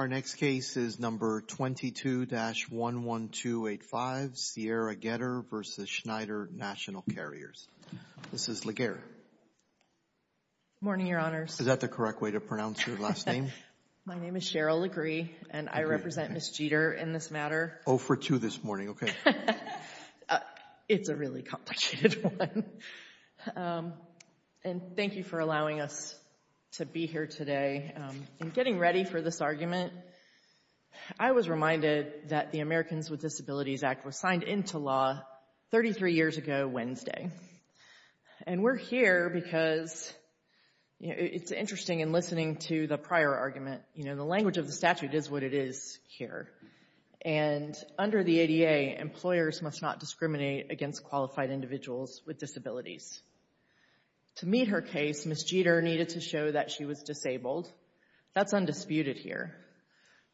Good morning, Your Honors. Is that the correct way to pronounce your last name? My name is Cheryl Legree, and I represent Ms. Jeter in this matter. 0 for 2 this morning, okay. It's a really complicated one. And thank you for allowing us to be here today. In getting ready for this argument, I was reminded that the Americans with Disabilities Act was signed into law 33 years ago Wednesday. And we're here because, you know, it's interesting in listening to the prior argument, you know, the language of the statute is what it is here. And under the ADA, employers must not discriminate against qualified individuals with disabilities. To meet her case, Ms. Jeter needed to show that she was disabled. That's undisputed here.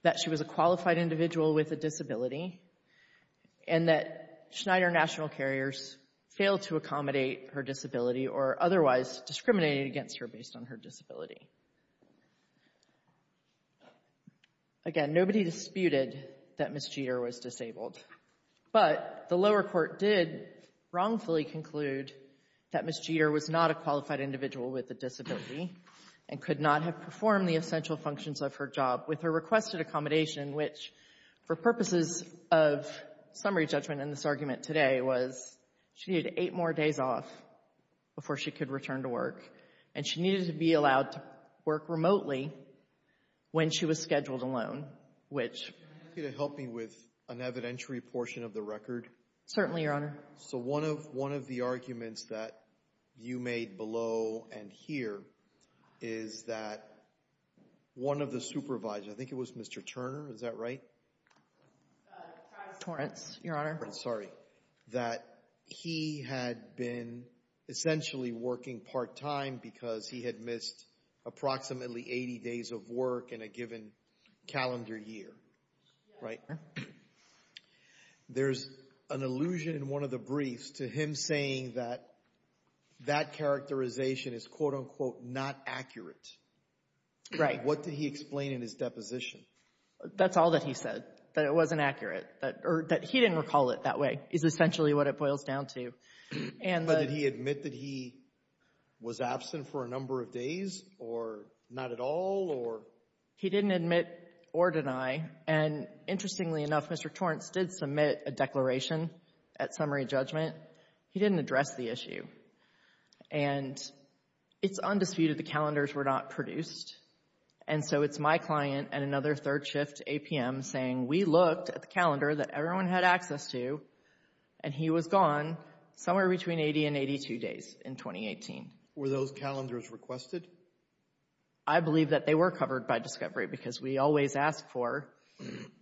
That she was a qualified individual with a disability, and that Schneider National Carriers failed to accommodate her disability or otherwise discriminate against her based on her disability. Again, nobody disputed that Ms. Jeter was disabled. But the lower court did wrongfully conclude that Ms. Jeter was not a qualified individual with a disability and could not have performed the essential functions of her job with her requested accommodation, which, for purposes of summary judgment in this argument today, was she had eight more days off before she could return to work, and she needed to be allowed to work remotely when she was scheduled alone, which — Every portion of the record? Certainly, Your Honor. So one of the arguments that you made below and here is that one of the supervisors — I think it was Mr. Turner, is that right? Travis Torrance, Your Honor. Sorry. That he had been essentially working part-time because he had missed approximately 80 days of work in a given calendar year, right? Yes, Your Honor. There's an allusion in one of the briefs to him saying that that characterization is quote-unquote not accurate. Right. What did he explain in his deposition? That's all that he said, that it wasn't accurate, or that he didn't recall it that way is essentially what it boils down to. But did he admit that he was absent for a number of days, or not at all, or? He didn't admit or deny, and interestingly enough, Mr. Torrance did submit a declaration at summary judgment. He didn't address the issue. And it's undisputed the calendars were not produced, and so it's my client and another third shift APM saying we looked at the calendar that everyone had access to, and he was gone somewhere between 80 and 82 days in 2018. Were those calendars requested? I believe that they were covered by discovery because we always ask for,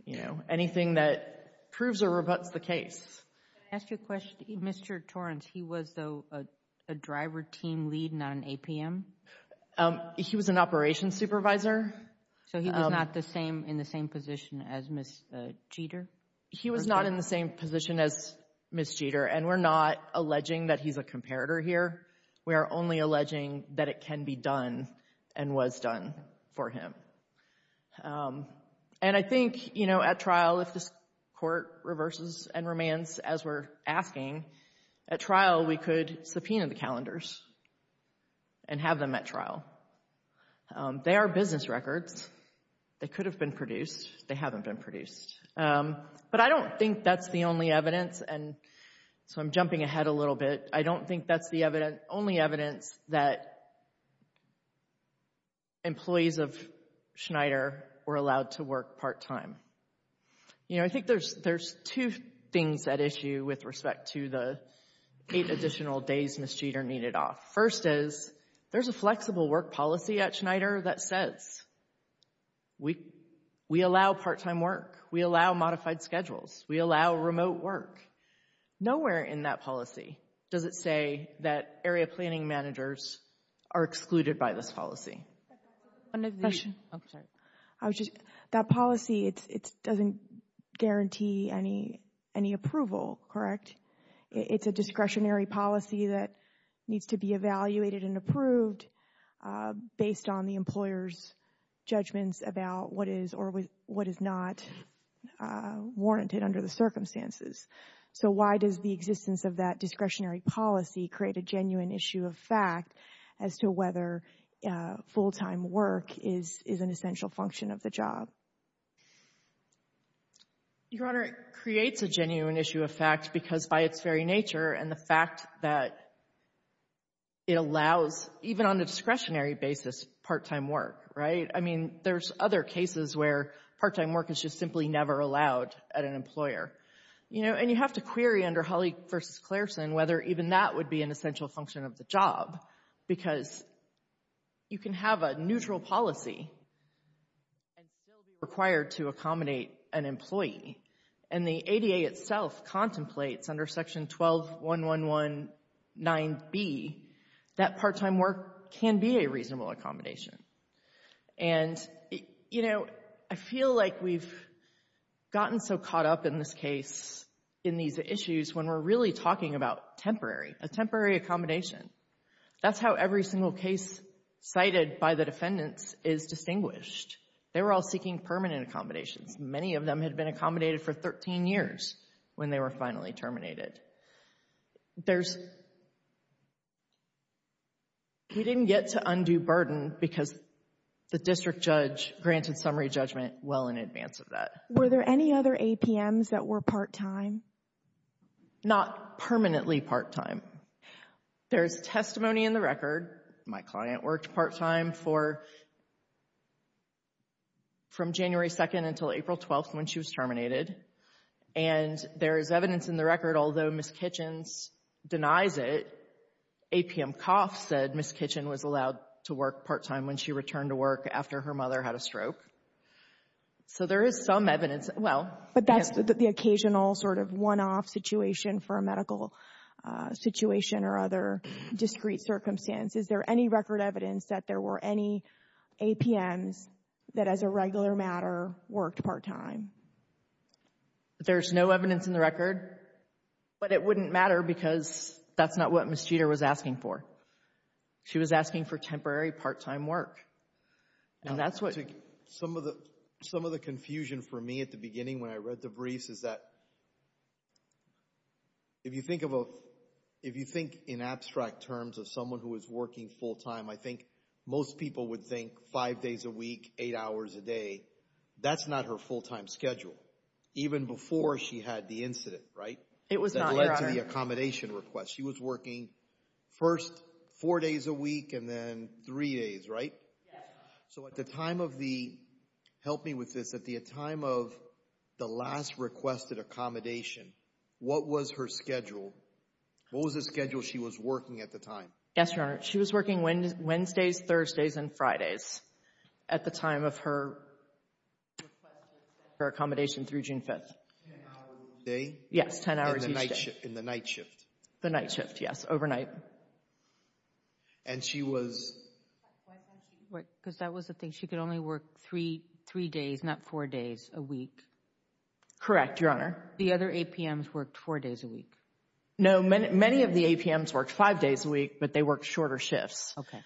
you know, anything that proves or rebuts the case. Can I ask you a question? Mr. Torrance, he was a driver team lead, not an APM? He was an operations supervisor. So he was not in the same position as Ms. Jeter? He was not in the same position as Ms. Jeter, and we're not alleging that he's a comparator here. We are only alleging that it can be done and was done for him. And I think, you know, at trial, if this court reverses and remains as we're asking, at trial we could subpoena the calendars and have them at trial. They are business records. They could have been produced. They haven't been produced. But I don't think that's the only evidence, and so I'm jumping ahead a little bit. I don't think that's the only evidence that employees of Schneider were allowed to work part-time. You know, I think there's two things at issue with respect to the eight additional days Ms. Jeter needed off. First is, there's a flexible work policy at Schneider that says we allow part-time work. We allow modified schedules. We allow remote work. Nowhere in that policy does it say that area planning managers are excluded by this policy. That policy, it doesn't guarantee any approval, correct? It's a discretionary policy that needs to be evaluated and approved based on the employer's circumstances. So why does the existence of that discretionary policy create a genuine issue of fact as to whether full-time work is an essential function of the job? Your Honor, it creates a genuine issue of fact because by its very nature and the fact that it allows, even on a discretionary basis, part-time work, right? I mean, there's other cases where part-time work is just simply never allowed at an employer. You know, and you have to query under Holley v. Clareson whether even that would be an essential function of the job because you can have a neutral policy and still be required to accommodate an employee. And the ADA itself contemplates under Section 12.111.9b that part-time work can be a reasonable accommodation. And, you know, I feel like we've gotten so caught up in this case, in these issues, when we're really talking about temporary, a temporary accommodation. That's how every single case cited by the defendants is distinguished. They were all seeking permanent accommodations. Many of them had been accommodated for 13 years when they were finally terminated. There's, we didn't get to undue burden because the district judge granted summary judgment well in advance of that. Were there any other APMs that were part-time? Not permanently part-time. There's testimony in the record. My client worked part-time for, from January 2nd until April 12th when she was terminated. And there is evidence in the record, although Ms. Kitchens denies it, APM Koff said Ms. Kitchen was allowed to work part-time when she returned to work after her mother had a stroke. So there is some evidence, well. But that's the occasional sort of one-off situation for a medical situation or other discrete circumstance. Is there any record evidence that there were any APMs that, as a regular matter, worked part-time? There's no evidence in the record. But it wouldn't matter because that's not what Ms. Jeter was asking for. She was asking for temporary part-time work. And that's what Some of the, some of the confusion for me at the beginning when I read the briefs is that if you think of a, if you think in abstract terms of someone who is working full-time, I think most people would think five days a week, eight hours a day. That's not her full-time schedule. Even before she had the incident, right? It was not. That led to the accommodation request. She was working first four days a week and then three days, right? So at the time of the, help me with this, at the time of the last requested accommodation, what was her schedule? What was the schedule she was working at the time? Yes, Your Honor. She was working Wednesdays, Thursdays, and Fridays at the time of her, her accommodation through June 5th. Ten hours a day? Yes, ten hours each day. In the night shift? In the night shift, yes, overnight. And she was Why can't she work, because that was the thing, she could only work three days, not four days Correct, Your Honor. The other APMs worked four days a week. No, many of the APMs worked five days a week, but they worked shorter shifts. Okay.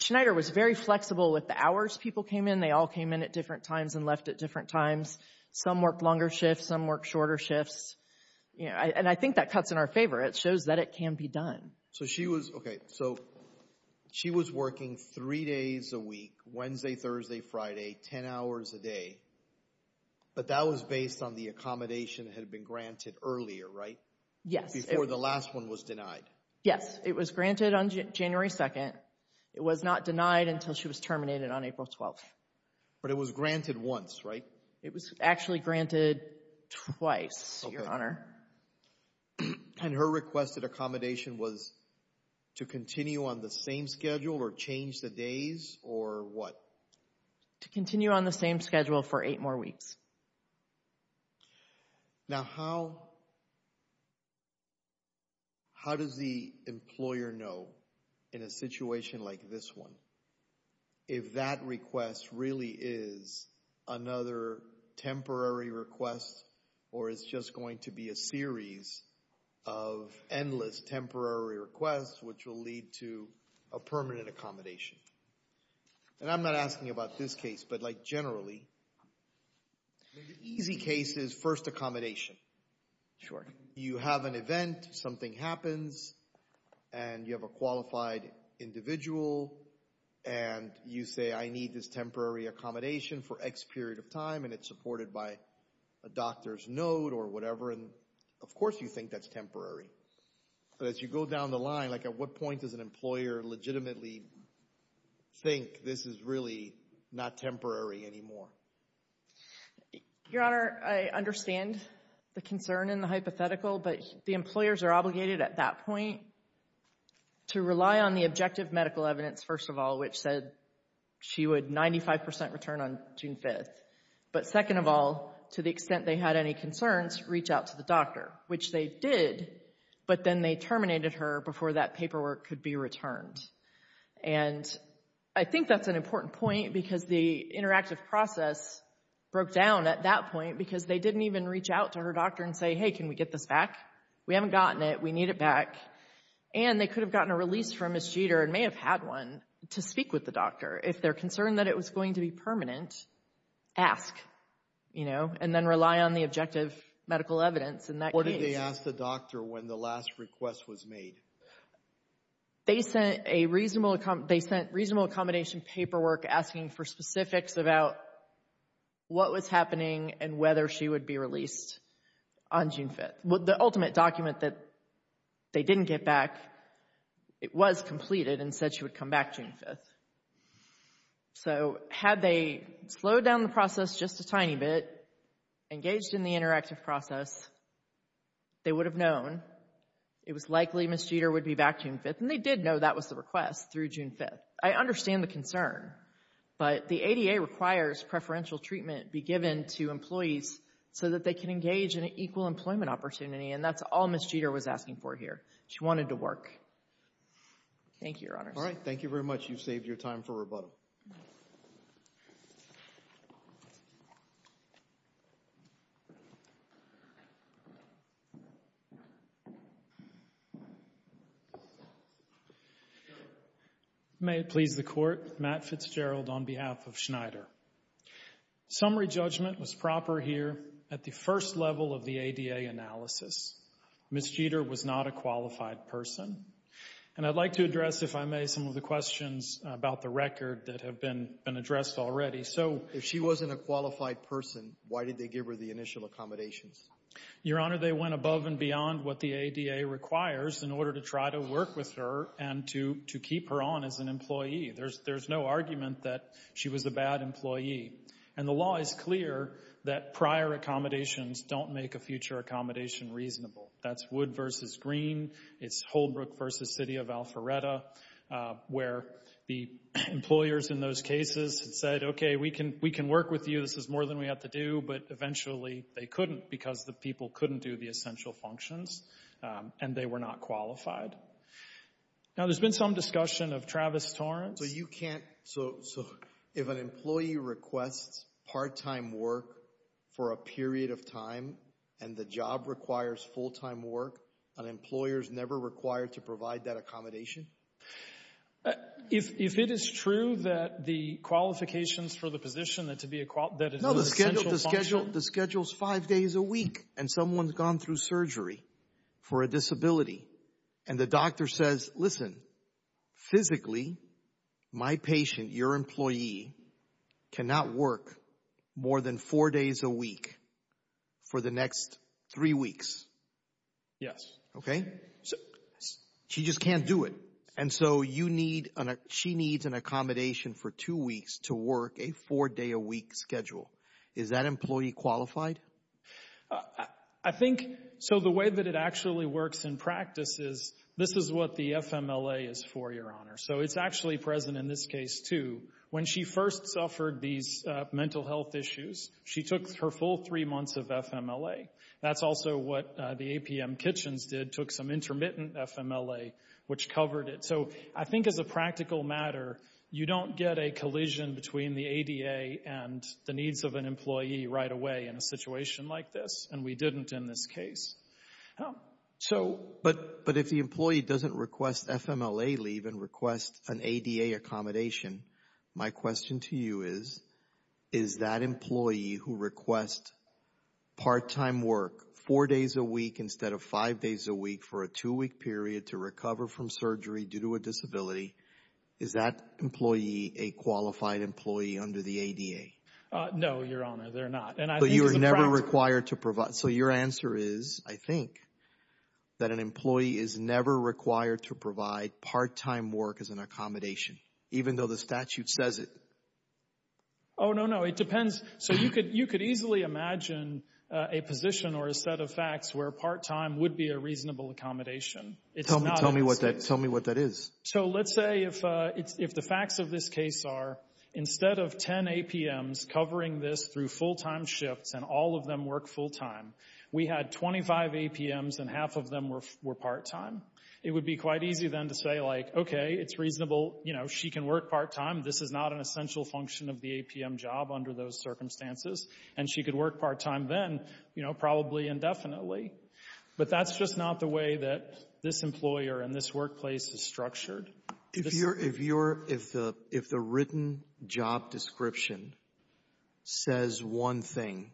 Schneider was very flexible with the hours people came in. They all came in at different times and left at different times. Some worked longer shifts, some worked shorter shifts. And I think that cuts in our favor. It shows that it can be done. So she was, okay, so she was working three days a week, Wednesday, Thursday, Friday, ten hours a day, but that was based on the accommodation that had been granted earlier, right? Yes. Before the last one was denied. Yes, it was granted on January 2nd. It was not denied until she was terminated on April 12th. But it was granted once, right? It was actually granted twice, Your Honor. And her requested accommodation was to continue on the same schedule or change the days, or what? To continue on the same schedule for eight more weeks. Now, how does the employer know in a situation like this one if that request really is another temporary request, or it's just going to be a series of endless temporary requests, which will lead to a permanent accommodation? And I'm not asking about this case, but like generally, the easy case is first accommodation. Sure. You have an event, something happens, and you have a qualified individual, and you say, I need this temporary accommodation for X period of time, and it's supported by a doctor's note or whatever, and of course you think that's temporary. But as you go down the line, like at what point does an employer legitimately think this is really not temporary anymore? Your Honor, I understand the concern and the hypothetical, but the employers are obligated at that point to rely on the objective medical evidence, first of all, which said she would 95% return on June 5th. But second of all, to the extent they had any concerns, reach out to the doctor, which they did, but then they terminated her before that paperwork could be returned. And I think that's an important point because the interactive process broke down at that point because they didn't even reach out to her doctor and say, hey, can we get this back? We haven't gotten it. We need it back. And they could have gotten a release from Ms. Jeter and may have had one to speak with the doctor. If they're concerned that it was going to be permanent, ask, you know, and then rely on the objective medical evidence in that case. Why didn't they ask the doctor when the last request was made? They sent a reasonable, they sent reasonable accommodation paperwork asking for specifics about what was happening and whether she would be released on June 5th. The ultimate document that they didn't get back, it was completed and said she would come back June 5th. So had they slowed down the process just a tiny bit, engaged in the interactive process, they would have known it was likely Ms. Jeter would be back June 5th. And they did know that was the request through June 5th. I understand the concern, but the ADA requires preferential treatment be given to employees so that they can engage in an equal employment opportunity, and that's all Ms. Jeter was asking for here. She wanted to work. Thank you, Your Honors. All right. Thank you very much. You've saved your time for rebuttal. May it please the Court, Matt Fitzgerald on behalf of Schneider. Summary judgment was proper here at the first level of the ADA analysis. Ms. Jeter was not a qualified person. And I'd like to address, if I may, some of the questions about the record that have been addressed already. So... If she wasn't a qualified person, why did they give her the initial accommodations? Your Honor, they went above and beyond what the ADA requires in order to try to work with her and to keep her on as an employee. There's no argument that she was a bad employee. And the law is clear that prior accommodations don't make a future accommodation reasonable. That's Wood v. Green, it's Holbrook v. City of Alpharetta, where the employers in those cases said, okay, we can work with you, this is more than we have to do, but eventually they couldn't because the people couldn't do the essential functions, and they were not qualified. Now, there's been some discussion of Travis Torrance. So you can't... So if an employee requests part-time work for a period of time and the job requires full-time work, an employer's never required to provide that accommodation? If it is true that the qualifications for the position, that it's an essential function... The schedule's five days a week, and someone's gone through surgery for a disability, and the doctor says, listen, physically, my patient, your employee, cannot work more than four days a week for the next three weeks. Yes. Okay? She just can't do it. And so you need... She needs an accommodation for two weeks to work a four-day-a-week schedule. Is that employee qualified? I think... So the way that it actually works in practice is, this is what the FMLA is for, Your Honor. So it's actually present in this case, too. When she first suffered these mental health issues, she took her full three months of FMLA. That's also what the APM Kitchens did, took some intermittent FMLA, which covered it. So I think as a practical matter, you don't get a collision between the ADA and the needs of an employee right away in a situation like this, and we didn't in this case. So... But if the employee doesn't request FMLA leave and request an ADA accommodation, my question to you is, is that employee who requests part-time work four days a week instead of five days a week for a two-week period to recover from surgery due to a disability, is that employee a qualified employee under the ADA? No, Your Honor. They're not. And I think as a practical... So you're never required to provide... So your answer is, I think, that an employee is never required to provide part-time work as an accommodation, even though the statute says it. Oh, no, no. It depends. So you could easily imagine a position or a set of facts where part-time would be a reasonable accommodation. It's not... Tell me what that is. So let's say if the facts of this case are, instead of 10 APMs covering this through full-time shifts and all of them work full-time, we had 25 APMs and half of them were part-time. It would be quite easy then to say, like, okay, it's reasonable. You know, she can work part-time. This is not an essential function of the APM job under those circumstances. And she could work part-time then, you know, probably indefinitely. But that's just not the way that this employer and this workplace is structured. If the written job description says one thing,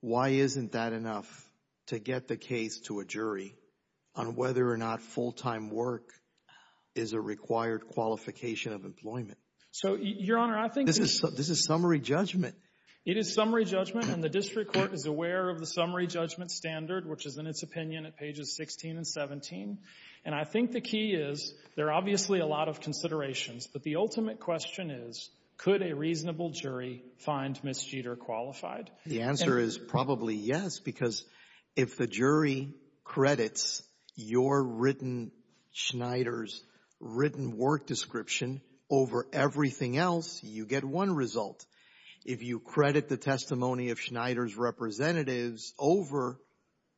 why isn't that enough to get the case to a jury on whether or not full-time work is a required qualification of employment? So, Your Honor, I think... This is summary judgment. It is summary judgment. And the district court is aware of the summary judgment standard, which is in its opinion at pages 16 and 17. And I think the key is, there are obviously a lot of considerations, but the ultimate question is, could a reasonable jury find Ms. Jeter qualified? The answer is probably yes, because if the jury credits your written Schneider's written work description over everything else, you get one result. If you credit the testimony of Schneider's representatives over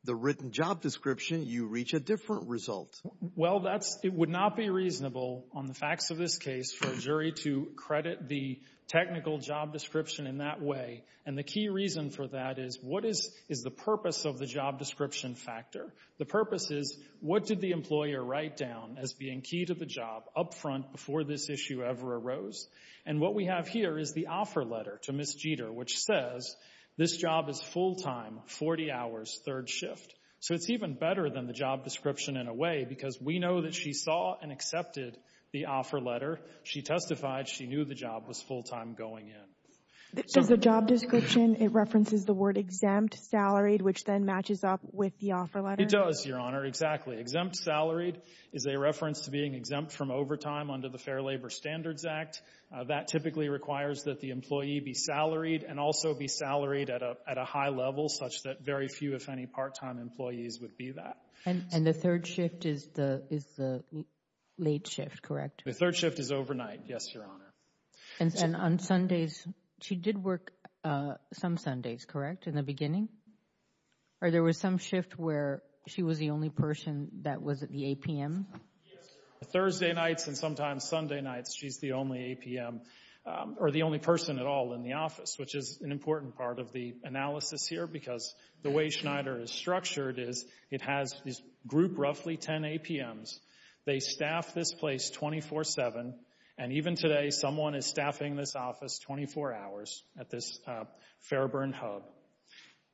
the written job description, you reach a different result. Well, that's... It would not be reasonable on the facts of this case for a jury to credit the technical job description in that way. And the key reason for that is, what is the purpose of the job description factor? The purpose is, what did the employer write down as being key to the job upfront before this issue ever arose? And what we have here is the offer letter to Ms. Jeter, which says, this job is full-time, 40 hours, third shift. So it's even better than the job description in a way, because we know that she saw and accepted the offer letter. She testified she knew the job was full-time going in. Does the job description, it references the word exempt, salaried, which then matches up with the offer letter? It does, Your Honor, exactly. Exempt salaried is a reference to being exempt from overtime under the Fair Labor Standards Act. That typically requires that the employee be salaried and also be salaried at a high level such that very few, if any, part-time employees would be that. And the third shift is the late shift, correct? The third shift is overnight, yes, Your Honor. And on Sundays, she did work some Sundays, correct, in the beginning? Or there was some shift where she was the only person that was at the APM? Yes, Your Honor. Thursday nights and sometimes Sunday nights, she's the only APM, or the only person at all in the office, which is an important part of the analysis here, because the way Schneider is structured is it has this group, roughly 10 APMs. They staff this place 24-7. And even today, someone is staffing this office 24 hours at this Fairburn hub.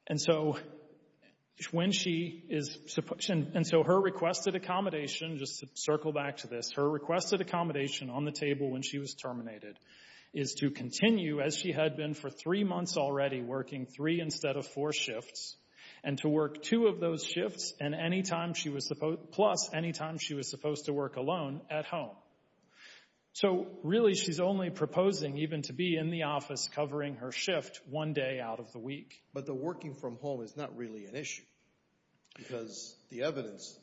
And so her requested accommodation, just to circle back to this, her requested accommodation on the table when she was terminated is to continue, as she had been for three months already, working three instead of four shifts, and to work two of those shifts plus any time she was supposed to work alone at home. So really, she's only proposing even to be in the office covering her shift one day out of the week. But the working from home is not really an issue, because the evidence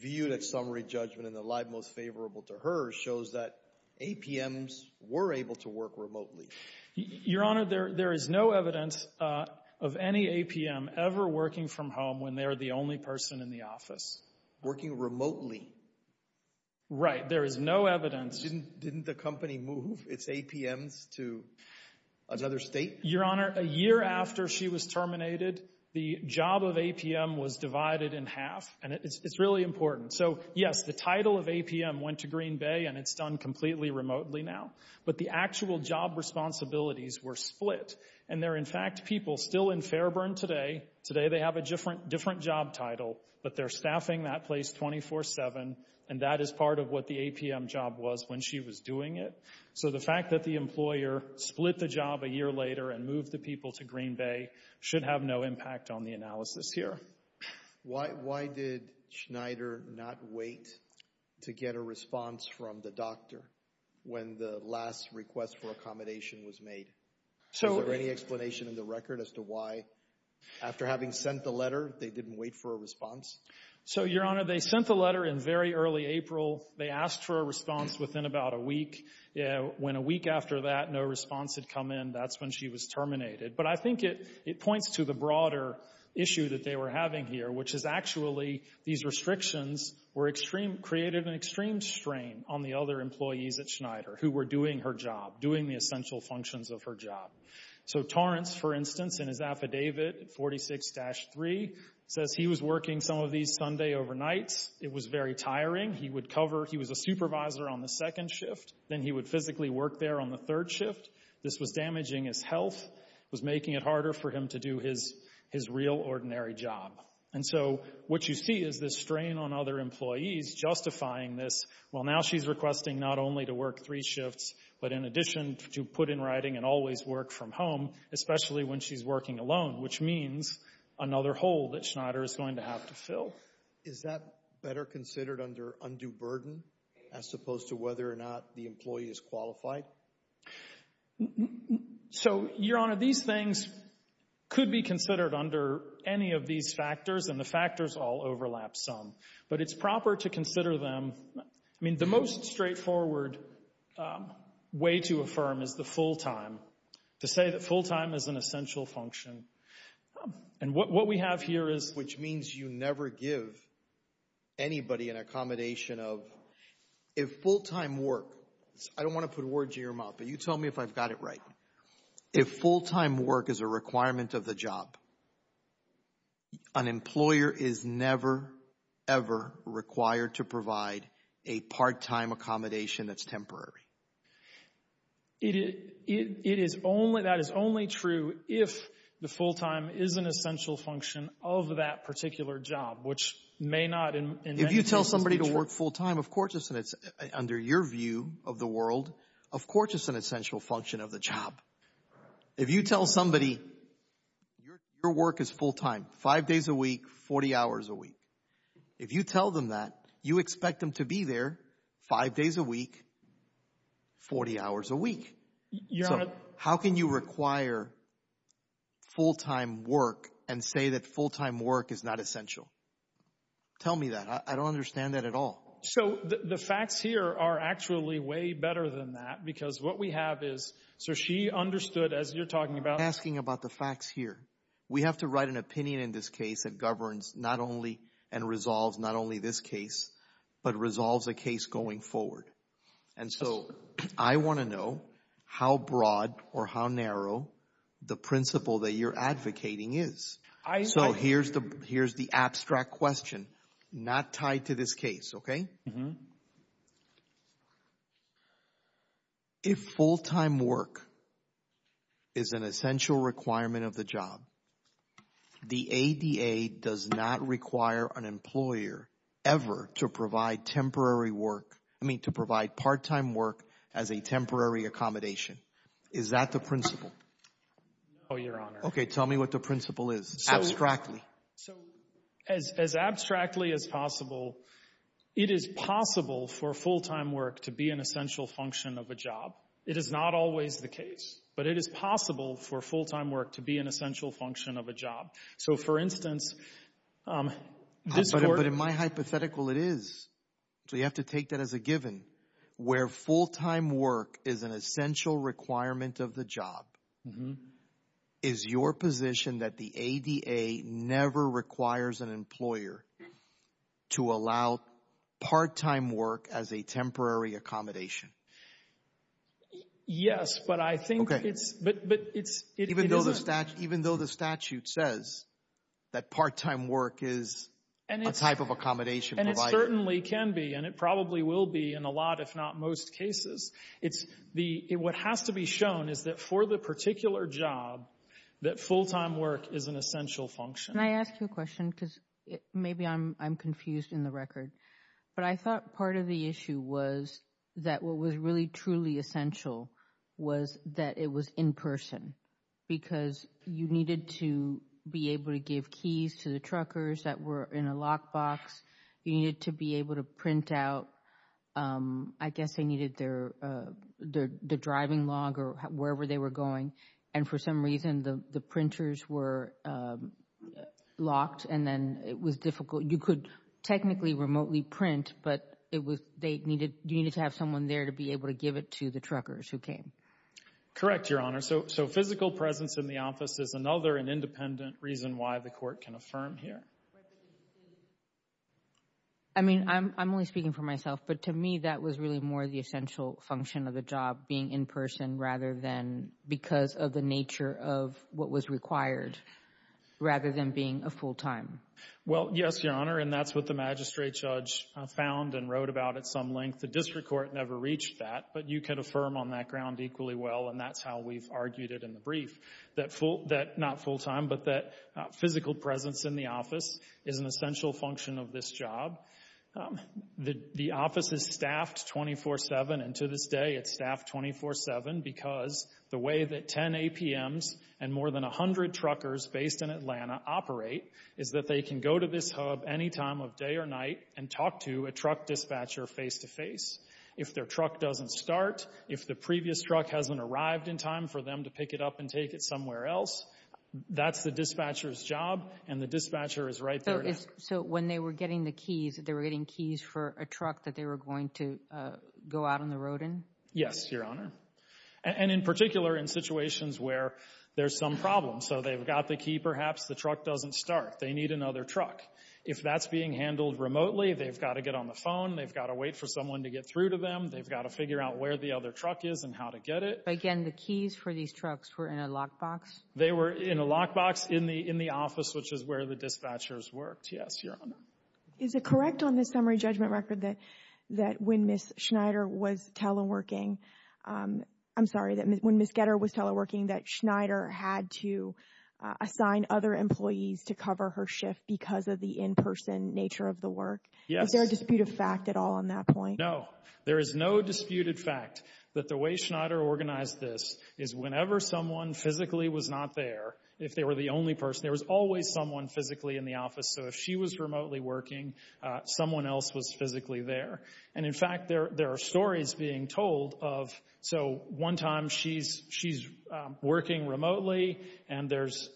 viewed at summary judgment and the lie most favorable to her shows that APMs were able to work remotely. Your Honor, there is no evidence of any APM ever working from home when they are the only person in the office. Working remotely? Right. There is no evidence. Didn't the company move its APMs to another state? Your Honor, a year after she was terminated, the job of APM was divided in half. And it's really important. So yes, the title of APM went to Green Bay, and it's done completely remotely now. But the actual job responsibilities were split. And there are, in fact, people still in Fairburn today, today they have a different job title, but they're staffing that place 24-7, and that is part of what the APM job was when she was doing it. So the fact that the employer split the job a year later and moved the people to Green Bay should have no impact on the analysis here. Why did Schneider not wait to get a response from the doctor when the last request for accommodation was made? Is there any explanation in the record as to why, after having sent the letter, they didn't wait for a response? So Your Honor, they sent the letter in very early April. They asked for a response within about a week. When a week after that, no response had come in, that's when she was terminated. But I think it points to the broader issue that they were having here, which is actually these restrictions created an extreme strain on the other employees at Schneider who were doing her job, doing the essential functions of her job. So Torrance, for instance, in his affidavit 46-3, says he was working some of these Sunday overnights. It was very tiring. He would cover—he was a supervisor on the second shift, then he would physically work there on the third shift. This was damaging his health, was making it harder for him to do his real, ordinary job. And so what you see is this strain on other employees justifying this. Well, now she's requesting not only to work three shifts, but in addition to put in writing and always work from home, especially when she's working alone, which means another hole that Schneider is going to have to fill. Is that better considered under undue burden as opposed to whether or not the employee is qualified? So, Your Honor, these things could be considered under any of these factors, and the factors all overlap some. But it's proper to consider them—I mean, the most straightforward way to affirm is the full time, to say that full time is an essential function. And what we have here is— I don't want to give anybody an accommodation of—if full time work—I don't want to put words in your mouth, but you tell me if I've got it right. If full time work is a requirement of the job, an employer is never, ever required to provide a part time accommodation that's temporary. It is—it is only—that is only true if the full time is an essential function of that particular job, which may not— If you tell somebody to work full time, of course, under your view of the world, of course it's an essential function of the job. If you tell somebody your work is full time, five days a week, 40 hours a week. If you tell them that, you expect them to be there five days a week, 40 hours a week. So, how can you require full time work and say that full time work is not essential? Tell me that. I don't understand that at all. So, the facts here are actually way better than that, because what we have is—so she understood as you're talking about— I'm asking about the facts here. We have to write an opinion in this case that governs not only and resolves not only this case, but resolves a case going forward. And so, I want to know how broad or how narrow the principle that you're advocating is. So, here's the—here's the abstract question, not tied to this case, okay? If full time work is an essential requirement of the job, the ADA does not require an employer ever to provide temporary work—I mean, to provide part time work as a temporary accommodation. Is that the principle? No, Your Honor. Okay, tell me what the principle is, abstractly. So, as abstractly as possible, it is possible for full time work to be an essential function of a job. It is not always the case, but it is possible for full time work to be an essential function of a job. So, for instance, this court— But in my hypothetical, it is. So, you have to take that as a given, where full time work is an essential requirement of the job, is your position that the ADA never requires an employer to allow part time work as a temporary accommodation? Yes, but I think it's— Even though the statute says that part time work is a type of accommodation provided. And it certainly can be, and it probably will be in a lot, if not most, cases. What has to be shown is that for the particular job, that full time work is an essential function. Can I ask you a question, because maybe I'm confused in the record. But I thought part of the issue was that what was really truly essential was that it was in person, because you needed to be able to give keys to the truckers that were in a lockbox. You needed to be able to print out, I guess they needed their driving log or wherever they were going. And for some reason, the printers were locked, and then it was difficult. You could technically remotely print, but you needed to have someone there to be able to give it to the truckers who came. Correct, Your Honor. So physical presence in the office is another, an independent reason why the court can affirm here. I mean, I'm only speaking for myself, but to me, that was really more the essential function of the job, being in person rather than because of the nature of what was required, rather than being a full time. Well, yes, Your Honor, and that's what the magistrate judge found and wrote about at some length. The district court never reached that, but you can affirm on that ground equally well, and that's how we've argued it in the brief, that not full time, but that physical presence in the office is an essential function of this job. The office is staffed 24-7, and to this day, it's staffed 24-7, because the way that 10 APMs and more than 100 truckers based in Atlanta operate is that they can go to this place. If their truck doesn't start, if the previous truck hasn't arrived in time for them to pick it up and take it somewhere else, that's the dispatcher's job, and the dispatcher is right there. So when they were getting the keys, they were getting keys for a truck that they were going to go out on the road in? Yes, Your Honor, and in particular, in situations where there's some problem. So they've got the key, perhaps the truck doesn't start, they need another truck. If that's being handled remotely, they've got to get on the phone, they've got to wait for someone to get through to them, they've got to figure out where the other truck is and how to get it. Again, the keys for these trucks were in a lockbox? They were in a lockbox in the office, which is where the dispatchers worked, yes, Your Honor. Is it correct on this summary judgment record that when Ms. Schneider was teleworking, I'm sorry, when Ms. Getter was teleworking, that Schneider had to assign other employees to cover her shift because of the in-person nature of the work? Yes. Is there a dispute of fact at all on that point? No. There is no disputed fact that the way Schneider organized this is whenever someone physically was not there, if they were the only person, there was always someone physically in the office. So if she was remotely working, someone else was physically there. And in fact, there are stories being told of, so one time she's working remotely and there's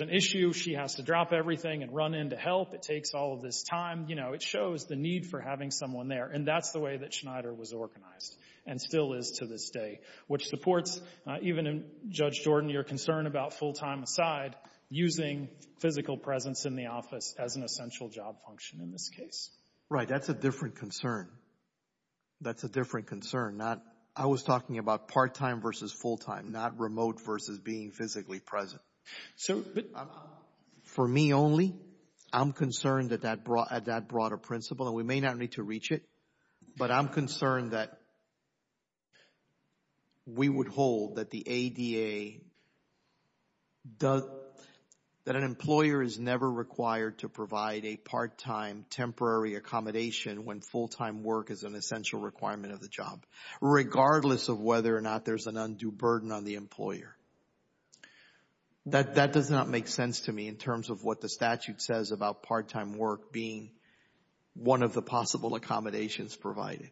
an issue, she has to drop everything and run in to help, it takes all of this time, it shows the need for having someone there. And that's the way that Schneider was organized and still is to this day, which supports, even Judge Jordan, your concern about full-time aside, using physical presence in the office as an essential job function in this case. Right. That's a different concern. That's a different concern. I was talking about part-time versus full-time, not remote versus being physically present. So, for me only, I'm concerned at that broader principle, and we may not need to reach it, but I'm concerned that we would hold that the ADA, that an employer is never required to provide a part-time temporary accommodation when full-time work is an essential requirement of the job, regardless of whether or not there's an undue burden on the employer. That does not make sense to me in terms of what the statute says about part-time work being one of the possible accommodations provided.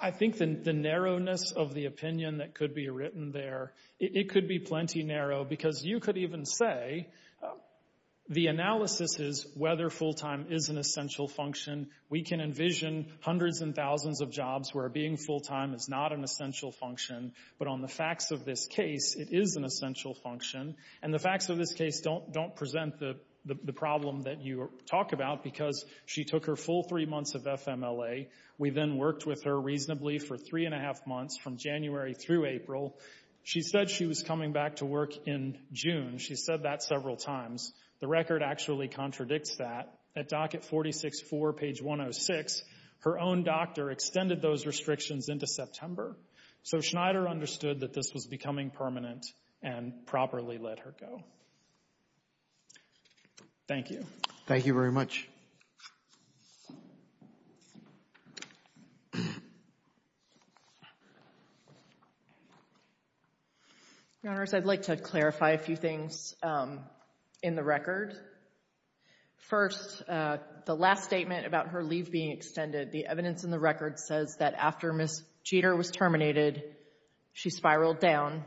I think the narrowness of the opinion that could be written there, it could be plenty narrow because you could even say the analysis is whether full-time is an essential function. We can envision hundreds and thousands of jobs where being full-time is not an essential function, but on the facts of this case, it is an essential function, and the facts of this case don't present the problem that you talk about because she took her full three months of FMLA. We then worked with her reasonably for three and a half months from January through April. She said she was coming back to work in June. She said that several times. The record actually contradicts that. At docket 46-4, page 106, her own doctor extended those restrictions into September, so Schneider understood that this was becoming permanent and properly let her go. Thank you. Thank you very much. Your Honors, I'd like to clarify a few things in the record. First, the last statement about her leave being extended, the evidence in the record says that after Ms. Jeter was terminated, she spiraled down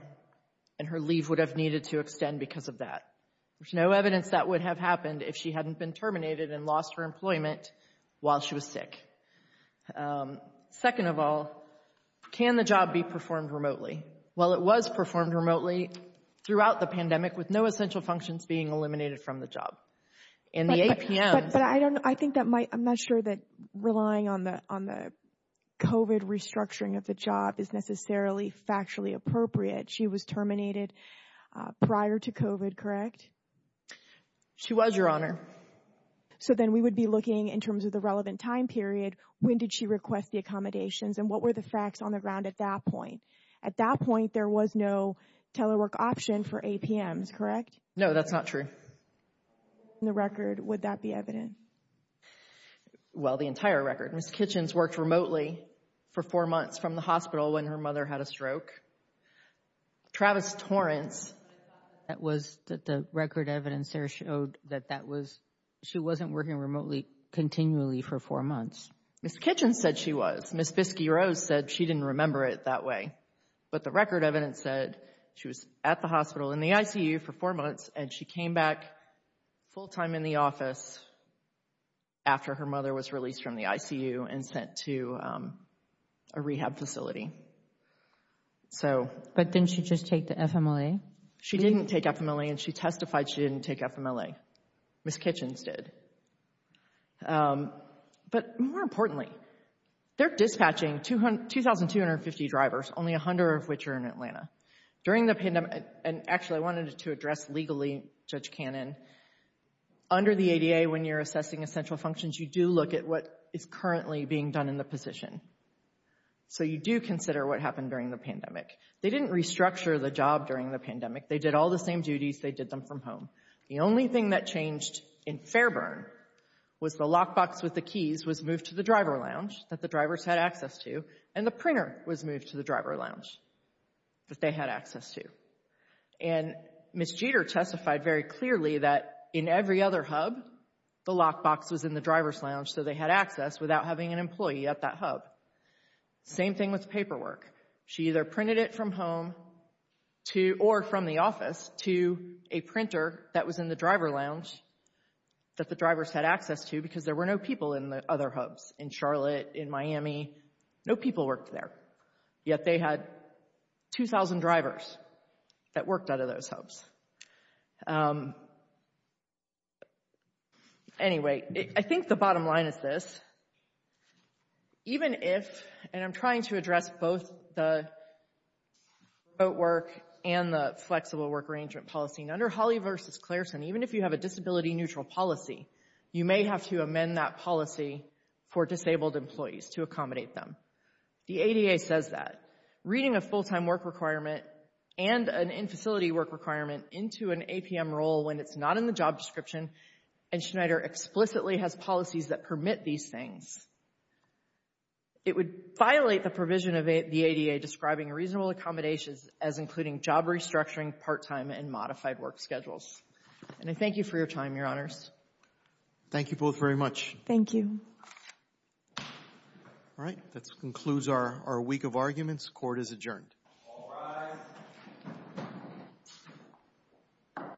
and her leave would have needed to extend because of that. There's no evidence that would have happened if she hadn't been terminated and lost her employment while she was sick. Second of all, can the job be performed remotely? Well, it was performed remotely throughout the pandemic with no essential functions being eliminated from the job. And the APM. But I don't, I think that might, I'm not sure that relying on the, on the COVID restructuring of the job is necessarily factually appropriate. She was terminated prior to COVID, correct? She was, Your Honor. So then we would be looking in terms of the relevant time period, when did she request the accommodations and what were the facts on the ground at that point? At that point, there was no telework option for APMs, correct? No, that's not true. In the record, would that be evident? Well, the entire record. Ms. Kitchens worked remotely for four months from the hospital when her mother had a stroke. Travis Torrance. That was the record evidence there showed that that was, she wasn't working remotely continually for four months. Ms. Kitchens said she was. Ms. Biskey-Rose said she didn't remember it that way. But the record evidence said she was at the hospital in the ICU for four months and she came back full time in the office after her mother was released from the ICU and sent to a rehab facility. But didn't she just take the FMLA? She didn't take FMLA and she testified she didn't take FMLA. Ms. Kitchens did. But more importantly, they're dispatching 2,250 drivers, only 100 of which are in Atlanta. During the pandemic, and actually I wanted to address legally Judge Cannon, under the ADA when you're assessing essential functions, you do look at what is currently being done in the position. So you do consider what happened during the pandemic. They didn't restructure the job during the pandemic. They did all the same duties. They did them from home. The only thing that changed in Fairburn was the lockbox with the keys was moved to the driver lounge that the drivers had access to, and the printer was moved to the driver lounge that they had access to. And Ms. Jeter testified very clearly that in every other hub, the lockbox was in the hands of an employee at that hub. Same thing with paperwork. She either printed it from home or from the office to a printer that was in the driver lounge that the drivers had access to because there were no people in the other hubs. In Charlotte, in Miami, no people worked there. Yet they had 2,000 drivers that worked out of those hubs. Anyway, I think the bottom line is this. Even if, and I'm trying to address both the remote work and the flexible work arrangement policy. Under Holly v. Clareson, even if you have a disability-neutral policy, you may have to amend that policy for disabled employees to accommodate them. The ADA says that. Reading a full-time work requirement and an in-facility work requirement into an APM role when it's not in the job description, and Schneider explicitly has policies that permit these things. It would violate the provision of the ADA describing reasonable accommodations as including job restructuring, part-time, and modified work schedules. And I thank you for your time, Your Honors. Thank you both very much. Thank you. All right. That concludes our week of arguments. Court is adjourned. All rise.